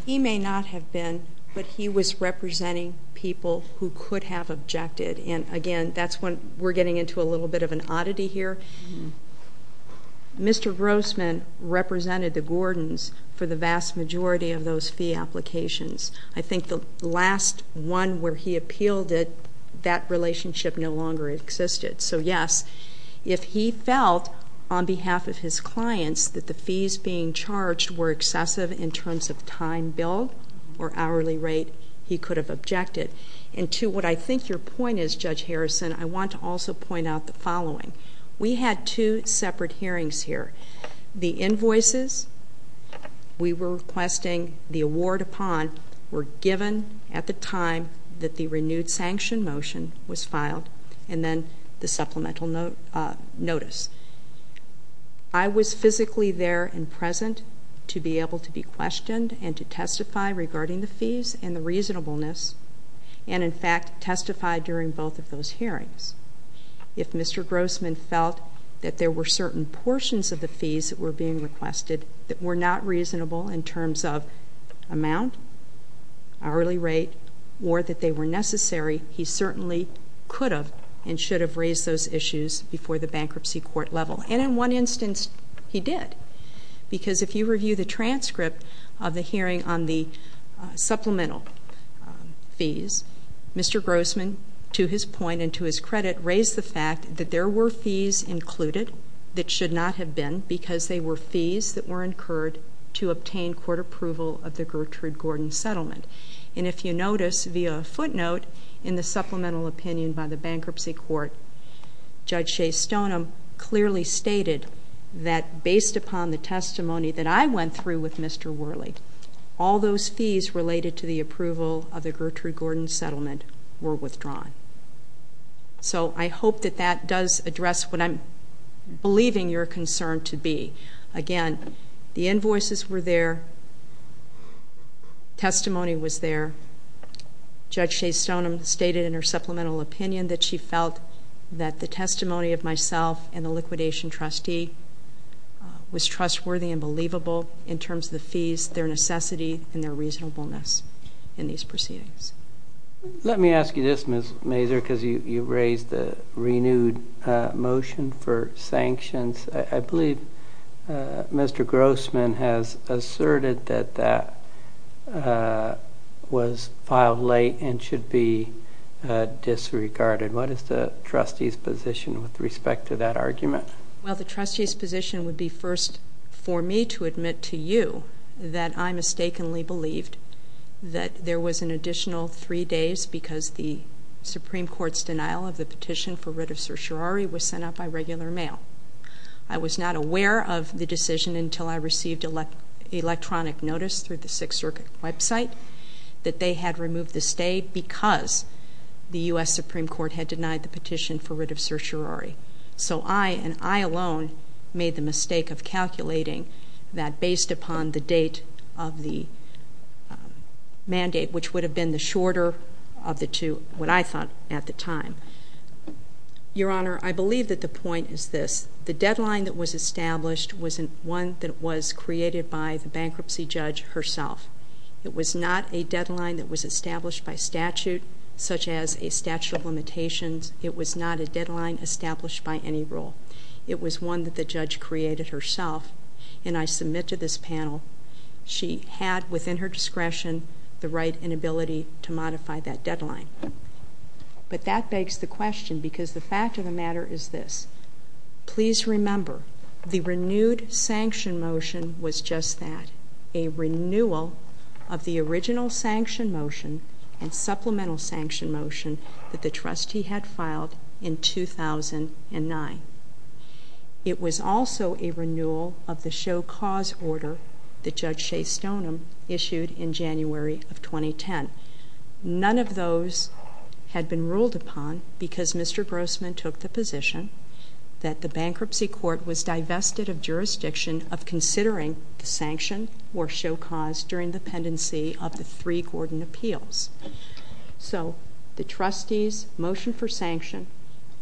He may not have been, but he was representing people who could have objected. And, again, that's when we're getting into a little bit of an oddity here. Mr. Grossman represented the Gordons for the vast majority of those fee applications. I think the last one where he appealed it, that relationship no longer existed. So, yes, if he felt, on behalf of his clients, that the fees being charged were excessive in terms of time bill or hourly rate, he could have objected. And, to what I think your point is, Judge Harrison, I want to also point out the following. We had two separate hearings here. The invoices we were requesting the award upon were given at the time that the renewed sanction motion was filed and then the supplemental notice. I was physically there and present to be able to be questioned and to testify regarding the fees and the reasonableness and, in fact, testify during both of those hearings. If Mr. Grossman felt that there were certain portions of the fees that were being requested that were not reasonable in terms of amount, hourly rate, or that they were necessary, he certainly could have and should have raised those issues before the bankruptcy court level. And, in one instance, he did. Because if you review the transcript of the hearing on the supplemental fees, Mr. Grossman, to his point and to his credit, raised the fact that there were fees included that should not have been because they were fees that were incurred to obtain court approval of the Gertrude Gordon settlement. And, if you notice, via a footnote in the supplemental opinion by the bankruptcy court, Judge Shea Stoneham clearly stated that, based upon the testimony that I went through with Mr. Worley, all those fees related to the approval of the Gertrude Gordon settlement were withdrawn. So, I hope that that does address what I'm believing your concern to be. Again, the invoices were there. Testimony was there. Judge Shea Stoneham stated in her supplemental opinion that she felt that the testimony of myself and the liquidation trustee was trustworthy and believable in terms of the fees, their necessity, and their reasonableness in these proceedings. Let me ask you this, Ms. Mazur, because you raised the renewed motion for sanctions. I believe Mr. Grossman has asserted that that was filed late and should be disregarded. What is the trustee's position with respect to that argument? Well, the trustee's position would be first for me to admit to you that I mistakenly believed that there was an additional three days because the Supreme Court's denial of the petition for writ of certiorari was sent out by regular mail. I was not aware of the decision until I received electronic notice through the Sixth Circuit website that they had removed the stay because the U.S. Supreme Court had denied the petition for writ of certiorari. So I, and I alone, made the mistake of calculating that based upon the date of the mandate, which would have been the shorter of the two, what I thought at the time. Your Honor, I believe that the point is this. The deadline that was established was one that was created by the bankruptcy judge herself. It was not a deadline that was established by statute, such as a statute of limitations. It was not a deadline established by any rule. It was one that the judge created herself, and I submit to this panel she had within her discretion the right and ability to modify that deadline. But that begs the question because the fact of the matter is this. Please remember, the renewed sanction motion was just that, a renewal of the original sanction motion and supplemental sanction motion that the trustee had filed in 2009. It was also a renewal of the show cause order that Judge Shea Stoneham issued in January of 2010. None of those had been ruled upon because Mr. Grossman took the position that the bankruptcy court was divested of jurisdiction of considering the sanction or show cause during the pendency of the three Gordon appeals. So the trustee's motion for sanction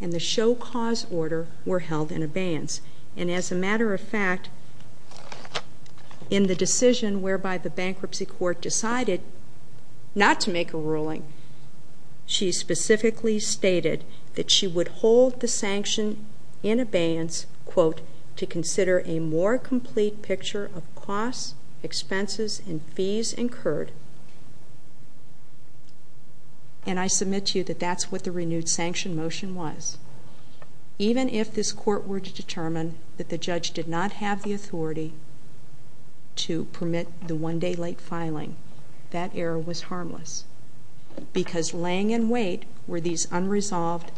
and the show cause order were held in abeyance. And as a matter of fact, in the decision whereby the bankruptcy court decided not to make a ruling, she specifically stated that she would hold the sanction in abeyance, quote, to consider a more complete picture of costs, expenses, and fees incurred. And I submit to you that that's what the renewed sanction motion was. Even if this court were to determine that the judge did not have the authority to permit the one-day late filing, that error was harmless because laying in wait were these unresolved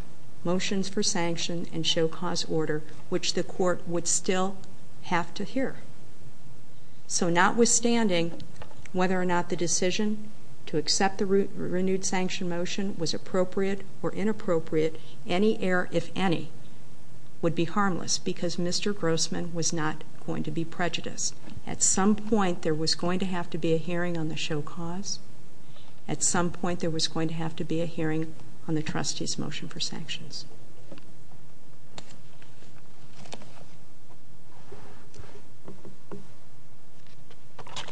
motions for sanction and show cause order, which the court would still have to hear. So notwithstanding whether or not the decision to accept the renewed sanction motion was appropriate or inappropriate, any error, if any, would be harmless because Mr. Grossman was not going to be prejudiced. At some point, there was going to have to be a hearing on the show cause. At some point, there was going to have to be a hearing on the trustee's motion for sanctions. Thank you.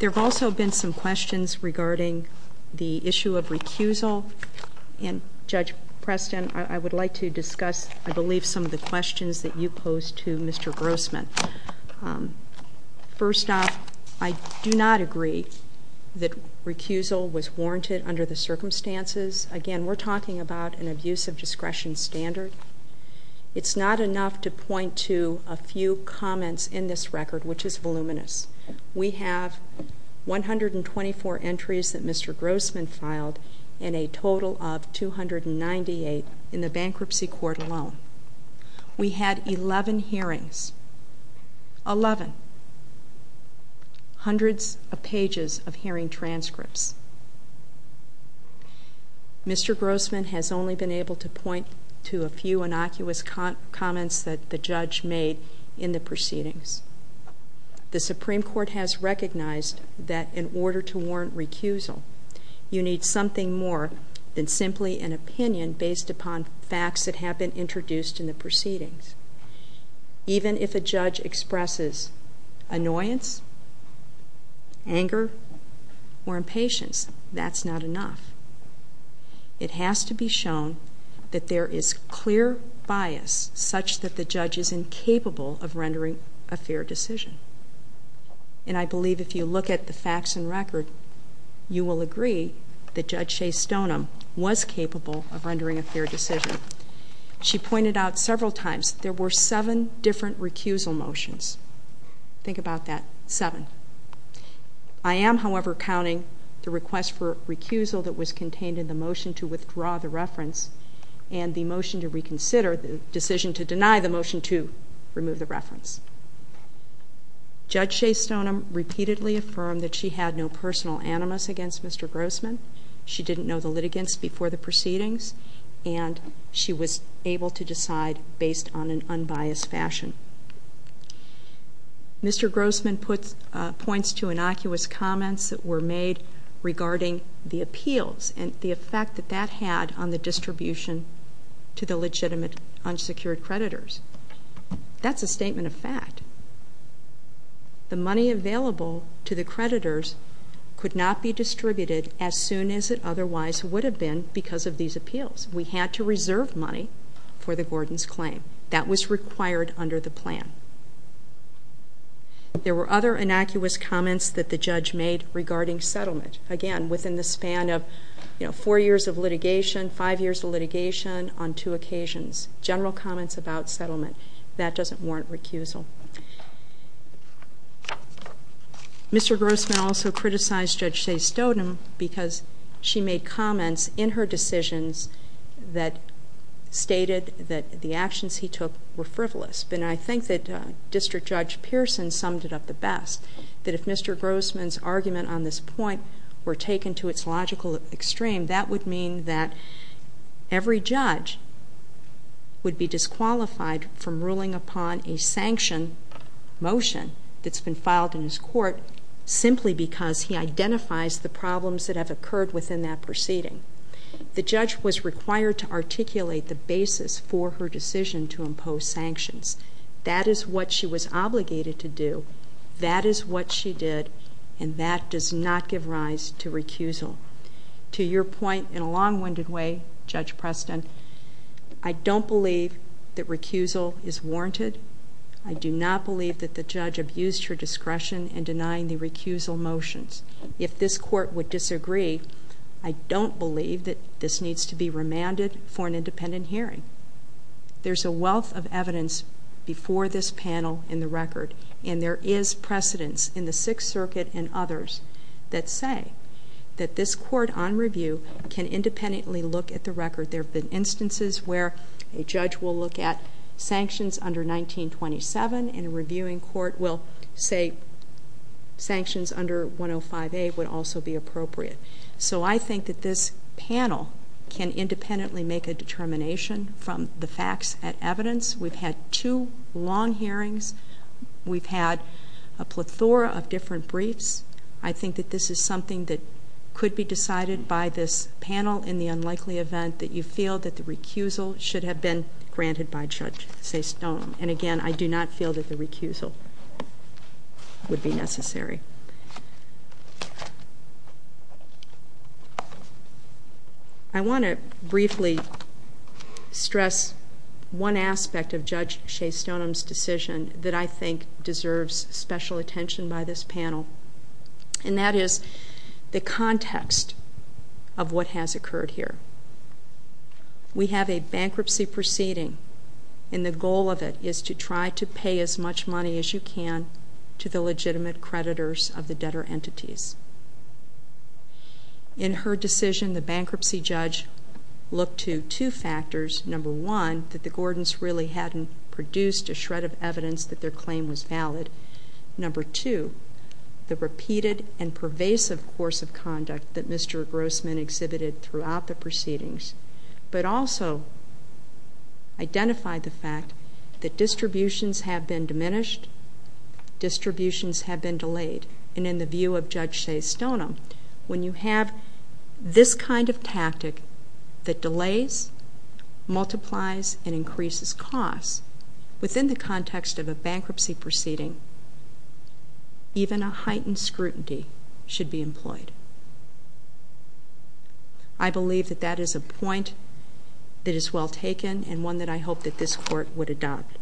There have also been some questions regarding the issue of recusal, and Judge Preston, I would like to discuss, I believe, some of the questions that you posed to Mr. Grossman. First off, I do not agree that recusal was warranted under the circumstances. Again, we're talking about an abuse of discretion standard. It's not enough to point to a few comments in this record, which is voluminous. We have 124 entries that Mr. Grossman filed and a total of 298 in the bankruptcy court alone. We had 11 hearings, 11, hundreds of pages of hearing transcripts. Mr. Grossman has only been able to point to a few innocuous comments that the judge made in the proceedings. The Supreme Court has recognized that in order to warrant recusal, you need something more than simply an opinion based upon facts that have been introduced in the proceedings. Even if a judge expresses annoyance, anger, or impatience, that's not enough. It has to be shown that there is clear bias such that the judge is incapable of rendering a fair decision. And I believe if you look at the facts and record, you will agree that Judge Shea Stoneham was capable of rendering a fair decision. She pointed out several times there were seven different recusal motions. Think about that, seven. I am, however, counting the request for recusal that was contained in the motion to withdraw the reference and the motion to reconsider the decision to deny the motion to remove the reference. Judge Shea Stoneham repeatedly affirmed that she had no personal animus against Mr. Grossman. She didn't know the litigants before the proceedings, and she was able to decide based on an unbiased fashion. Mr. Grossman puts points to innocuous comments that were made regarding the appeals and the effect that that had on the distribution to the legitimate unsecured creditors. That's a statement of fact. The money available to the creditors could not be distributed as soon as it otherwise would have been because of these appeals. We had to reserve money for the Gordon's claim. That was required under the plan. There were other innocuous comments that the judge made regarding settlement, again, within the span of four years of litigation, five years of litigation on two occasions, general comments about settlement. That doesn't warrant recusal. Mr. Grossman also criticized Judge Shea Stoneham because she made comments in her decisions that stated that the actions he took were frivolous. And I think that District Judge Pearson summed it up the best, that if Mr. Grossman's argument on this point were taken to its logical extreme, that would mean that every judge would be disqualified from ruling upon a sanction motion that's been filed in his court simply because he identifies the problems that have occurred within that proceeding. The judge was required to articulate the basis for her decision to impose sanctions. That is what she was obligated to do. That is what she did. And that does not give rise to recusal. To your point in a long-winded way, Judge Preston, I don't believe that recusal is warranted. I do not believe that the judge abused her discretion in denying the recusal motions. If this court would disagree, I don't believe that this needs to be remanded for an independent hearing. There's a wealth of evidence before this panel in the record, and there is precedence in the Sixth Circuit and others that say that this court on review can independently look at the record. There have been instances where a judge will look at sanctions under 1927, and a reviewing court will say sanctions under 105A would also be appropriate. So I think that this panel can independently make a determination from the facts and evidence. We've had two long hearings. We've had a plethora of different briefs. I think that this is something that could be decided by this panel in the unlikely event that you feel that the recusal should have been granted by Judge Sastone. And again, I do not feel that the recusal would be necessary. I want to briefly stress one aspect of Judge Sastone's decision that I think deserves special attention by this panel, and that is the context of what has occurred here. We have a bankruptcy proceeding, and the goal of it is to try to pay as much money as you can to the legitimate creditors of the debtor entities. In her decision, the bankruptcy judge looked to two factors. Number one, that the Gordons really hadn't produced a shred of evidence that their claim was valid. Number two, the repeated and pervasive course of conduct that Mr. Grossman exhibited throughout the proceedings, but also identified the fact that distributions have been diminished, distributions have been delayed. And in the view of Judge Sastone, when you have this kind of tactic that delays, multiplies, and increases costs within the context of a bankruptcy proceeding, even a heightened scrutiny should be employed. I believe that that is a point that is well taken and one that I hope that this Court would adopt.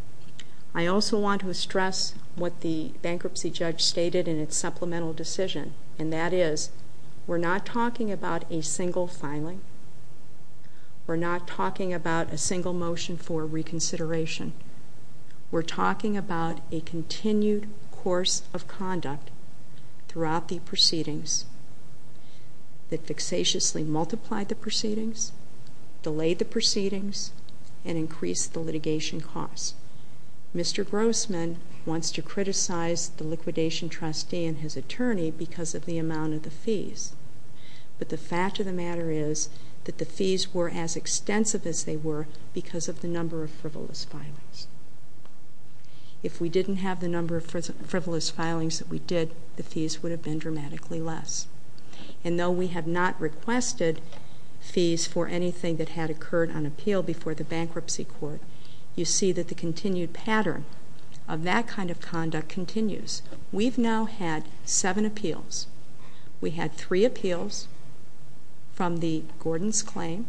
I also want to stress what the bankruptcy judge stated in its supplemental decision, and that is we're not talking about a single filing. We're not talking about a single motion for reconsideration. We're talking about a continued course of conduct throughout the proceedings that fixatiously multiplied the proceedings, delayed the proceedings, and increased the litigation costs. Mr. Grossman wants to criticize the liquidation trustee and his attorney because of the amount of the fees. But the fact of the matter is that the fees were as extensive as they were because of the number of frivolous filings. If we didn't have the number of frivolous filings that we did, the fees would have been dramatically less. And though we have not requested fees for anything that had occurred on appeal before the bankruptcy court, you see that the continued pattern of that kind of conduct continues. We've now had seven appeals. We had three appeals from the Gordon's claim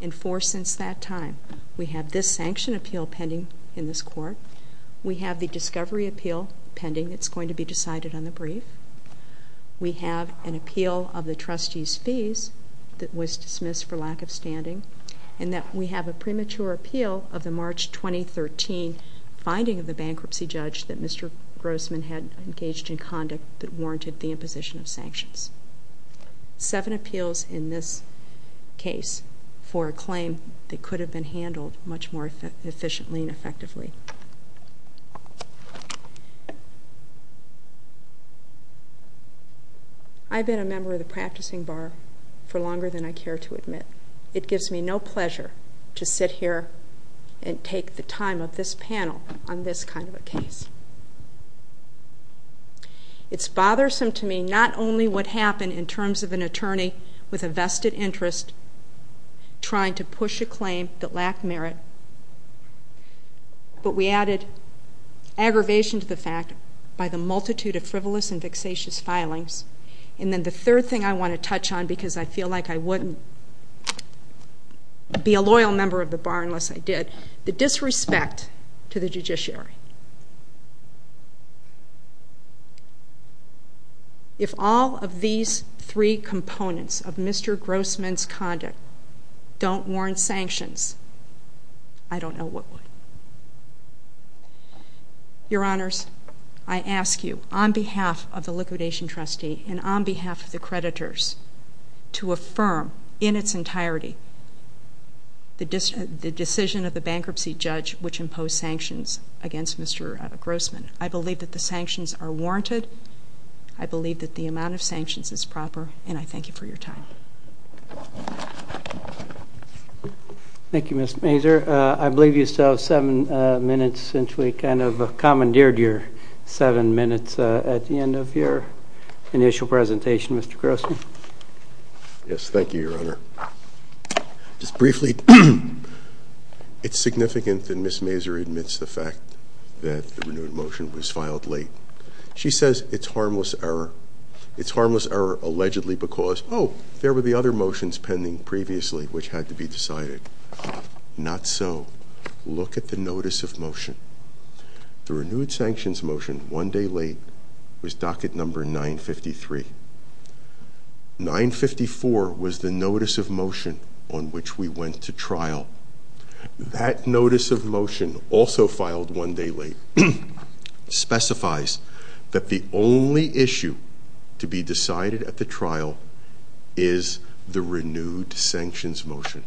and four since that time. We have this sanction appeal pending in this Court. We have the discovery appeal pending that's going to be decided on the brief. We have an appeal of the trustee's fees that was dismissed for lack of standing, and that we have a premature appeal of the March 2013 finding of the bankruptcy judge that Mr. Grossman had engaged in conduct that warranted the imposition of sanctions. Seven appeals in this case for a claim that could have been handled much more efficiently and effectively. I've been a member of the practicing bar for longer than I care to admit. It gives me no pleasure to sit here and take the time of this panel on this kind of a case. It's bothersome to me not only what happened in terms of an attorney with a vested interest trying to push a claim that lacked merit, but we added aggravation to the fact by the multitude of frivolous and vexatious filings. And then the third thing I want to touch on because I feel like I wouldn't be a loyal member of the bar unless I did, the disrespect to the judiciary. If all of these three components of Mr. Grossman's conduct don't warrant sanctions, I don't know what would. Your Honors, I ask you on behalf of the liquidation trustee and on behalf of the creditors to affirm in its entirety the decision of the bankruptcy judge which imposed sanctions against Mr. Grossman. I believe that the sanctions are warranted. I believe that the amount of sanctions is proper, and I thank you for your time. Thank you, Ms. Mazur. I believe you still have seven minutes since we kind of commandeered your seven minutes at the end of your initial presentation, Mr. Grossman. Yes, thank you, Your Honor. Just briefly, it's significant that Ms. Mazur admits the fact that the renewed motion was filed late. She says it's harmless error. Allegedly because, oh, there were the other motions pending previously which had to be decided. Not so. Look at the notice of motion. The renewed sanctions motion, one day late, was docket number 953. 954 was the notice of motion on which we went to trial. That notice of motion also filed one day late specifies that the only issue to be decided at the trial is the renewed sanctions motion.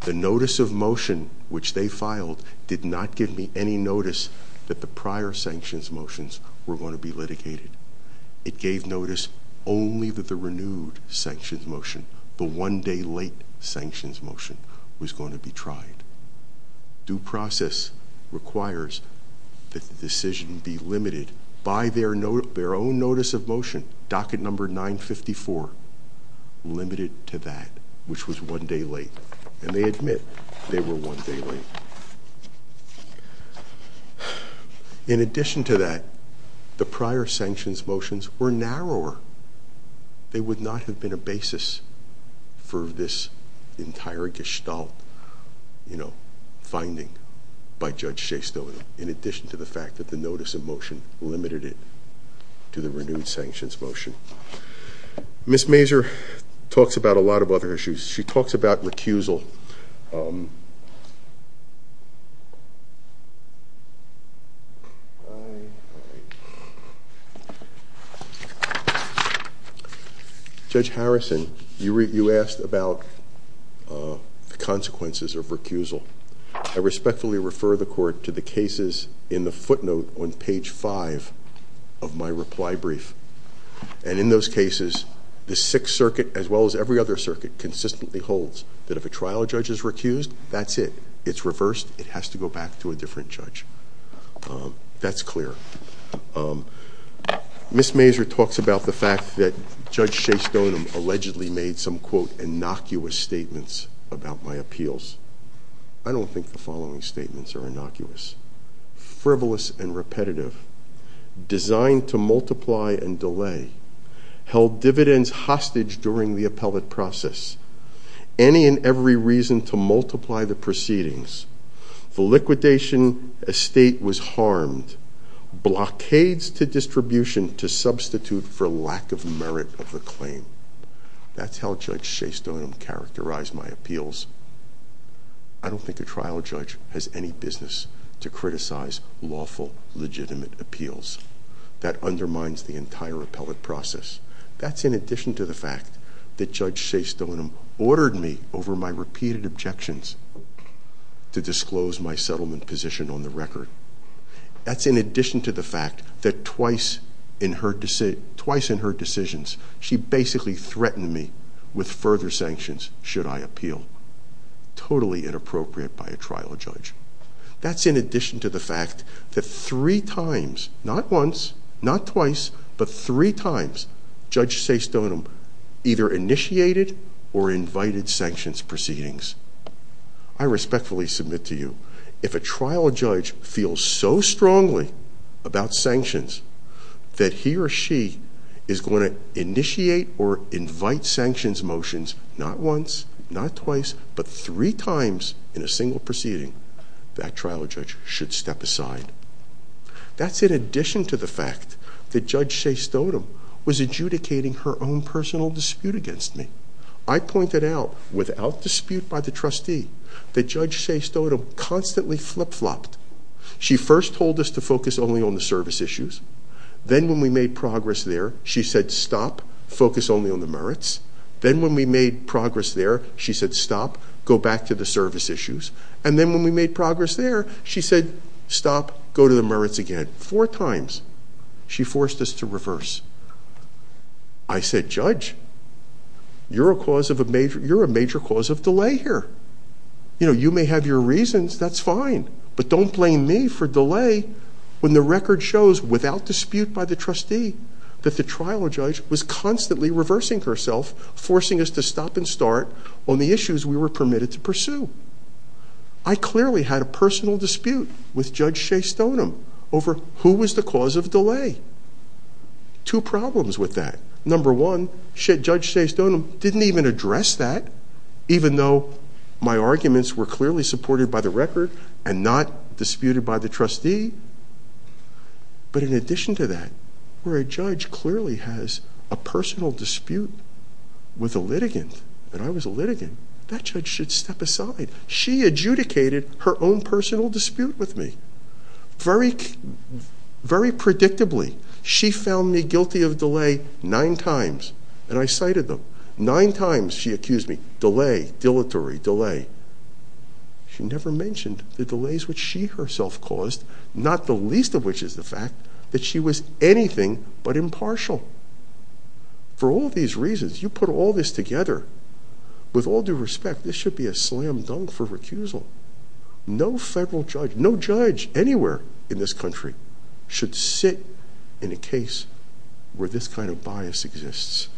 The notice of motion which they filed did not give me any notice that the prior sanctions motions were going to be litigated. It gave notice only that the renewed sanctions motion, the one day late sanctions motion, was going to be tried. Due process requires that the decision be limited by their own notice of motion, docket number 954, limited to that, which was one day late. And they admit they were one day late. In addition to that, the prior sanctions motions were narrower. They would not have been a basis for this entire gestalt finding by Judge Shastow in addition to the fact that the notice of motion limited it to the renewed sanctions motion. Ms. Mazur talks about a lot of other issues. She talks about recusal. Judge Harrison, you asked about the consequences of recusal. I respectfully refer the court to the cases in the footnote on page 5 of my reply brief. And in those cases, the Sixth Circuit, as well as every other circuit, consistently holds that if a trial judge is recused, that's it. It's reversed. It has to go back to a different judge. That's clear. Ms. Mazur talks about the fact that Judge Shastow allegedly made some, quote, innocuous statements about my appeals. I don't think the following statements are innocuous. Frivolous and repetitive, designed to multiply and delay, held dividends hostage during the appellate process, any and every reason to multiply the proceedings, the liquidation estate was harmed, blockades to distribution to substitute for lack of merit of the claim. That's how Judge Shastow characterized my appeals. I don't think a trial judge has any business to criticize lawful, legitimate appeals. That undermines the entire appellate process. That's in addition to the fact that Judge Shastow ordered me, over my repeated objections, to disclose my settlement position on the record. That's in addition to the fact that twice in her decisions, she basically threatened me with further sanctions should I appeal. Totally inappropriate by a trial judge. That's in addition to the fact that three times, not once, not twice, but three times, Judge Shastow either initiated or invited sanctions proceedings. I respectfully submit to you, if a trial judge feels so strongly about sanctions, that he or she is going to initiate or invite sanctions motions, not once, not twice, but three times in a single proceeding. That trial judge should step aside. That's in addition to the fact that Judge Shastow was adjudicating her own personal dispute against me. I pointed out, without dispute by the trustee, that Judge Shastow constantly flip-flopped. She first told us to focus only on the service issues. Then when we made progress there, she said, stop, focus only on the merits. Then when we made progress there, she said, stop, go back to the service issues. Then when we made progress there, she said, stop, go to the merits again. Four times she forced us to reverse. I said, Judge, you're a major cause of delay here. You may have your reasons, that's fine, but don't blame me for delay when the record shows, without dispute by the trustee, that the trial judge was constantly reversing herself, forcing us to stop and start on the issues we were permitted to pursue. I clearly had a personal dispute with Judge Shastownum over who was the cause of delay. Two problems with that. Number one, Judge Shastownum didn't even address that, even though my arguments were clearly supported by the record and not disputed by the trustee. But in addition to that, where a judge clearly has a personal dispute with a litigant, and I was a litigant, that judge should step aside. She adjudicated her own personal dispute with me. Very predictably, she found me guilty of delay nine times, and I cited them. Nine times she accused me, delay, dilatory, delay. She never mentioned the delays which she herself caused, not the least of which is the fact that she was anything but impartial. For all these reasons, you put all this together, with all due respect, this should be a slam dunk for recusal. No federal judge, no judge anywhere in this country, should sit in a case where this kind of bias exists.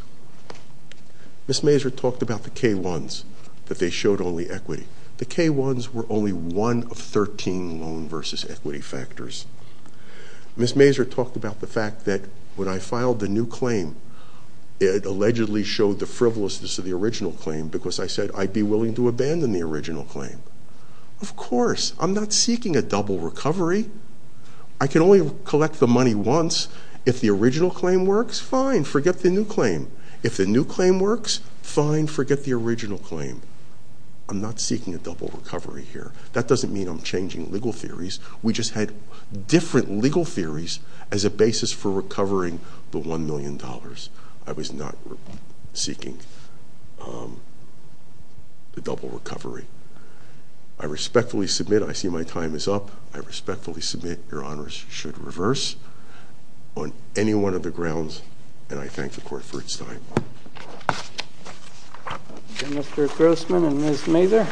Ms. Mazur talked about the K-1s, that they showed only equity. The K-1s were only one of 13 loan versus equity factors. Ms. Mazur talked about the fact that when I filed the new claim, it allegedly showed the frivolousness of the original claim, because I said I'd be willing to abandon the original claim. Of course, I'm not seeking a double recovery. I can only collect the money once. If the original claim works, fine, forget the new claim. If the new claim works, fine, forget the original claim. I'm not seeking a double recovery here. That doesn't mean I'm changing legal theories. We just had different legal theories as a basis for recovering the $1 million. I was not seeking the double recovery. I respectfully submit. I see my time is up. I respectfully submit. Your honors should reverse. On any one of the grounds, and I thank the court for its time. Mr. Grossman and Ms. Mazur.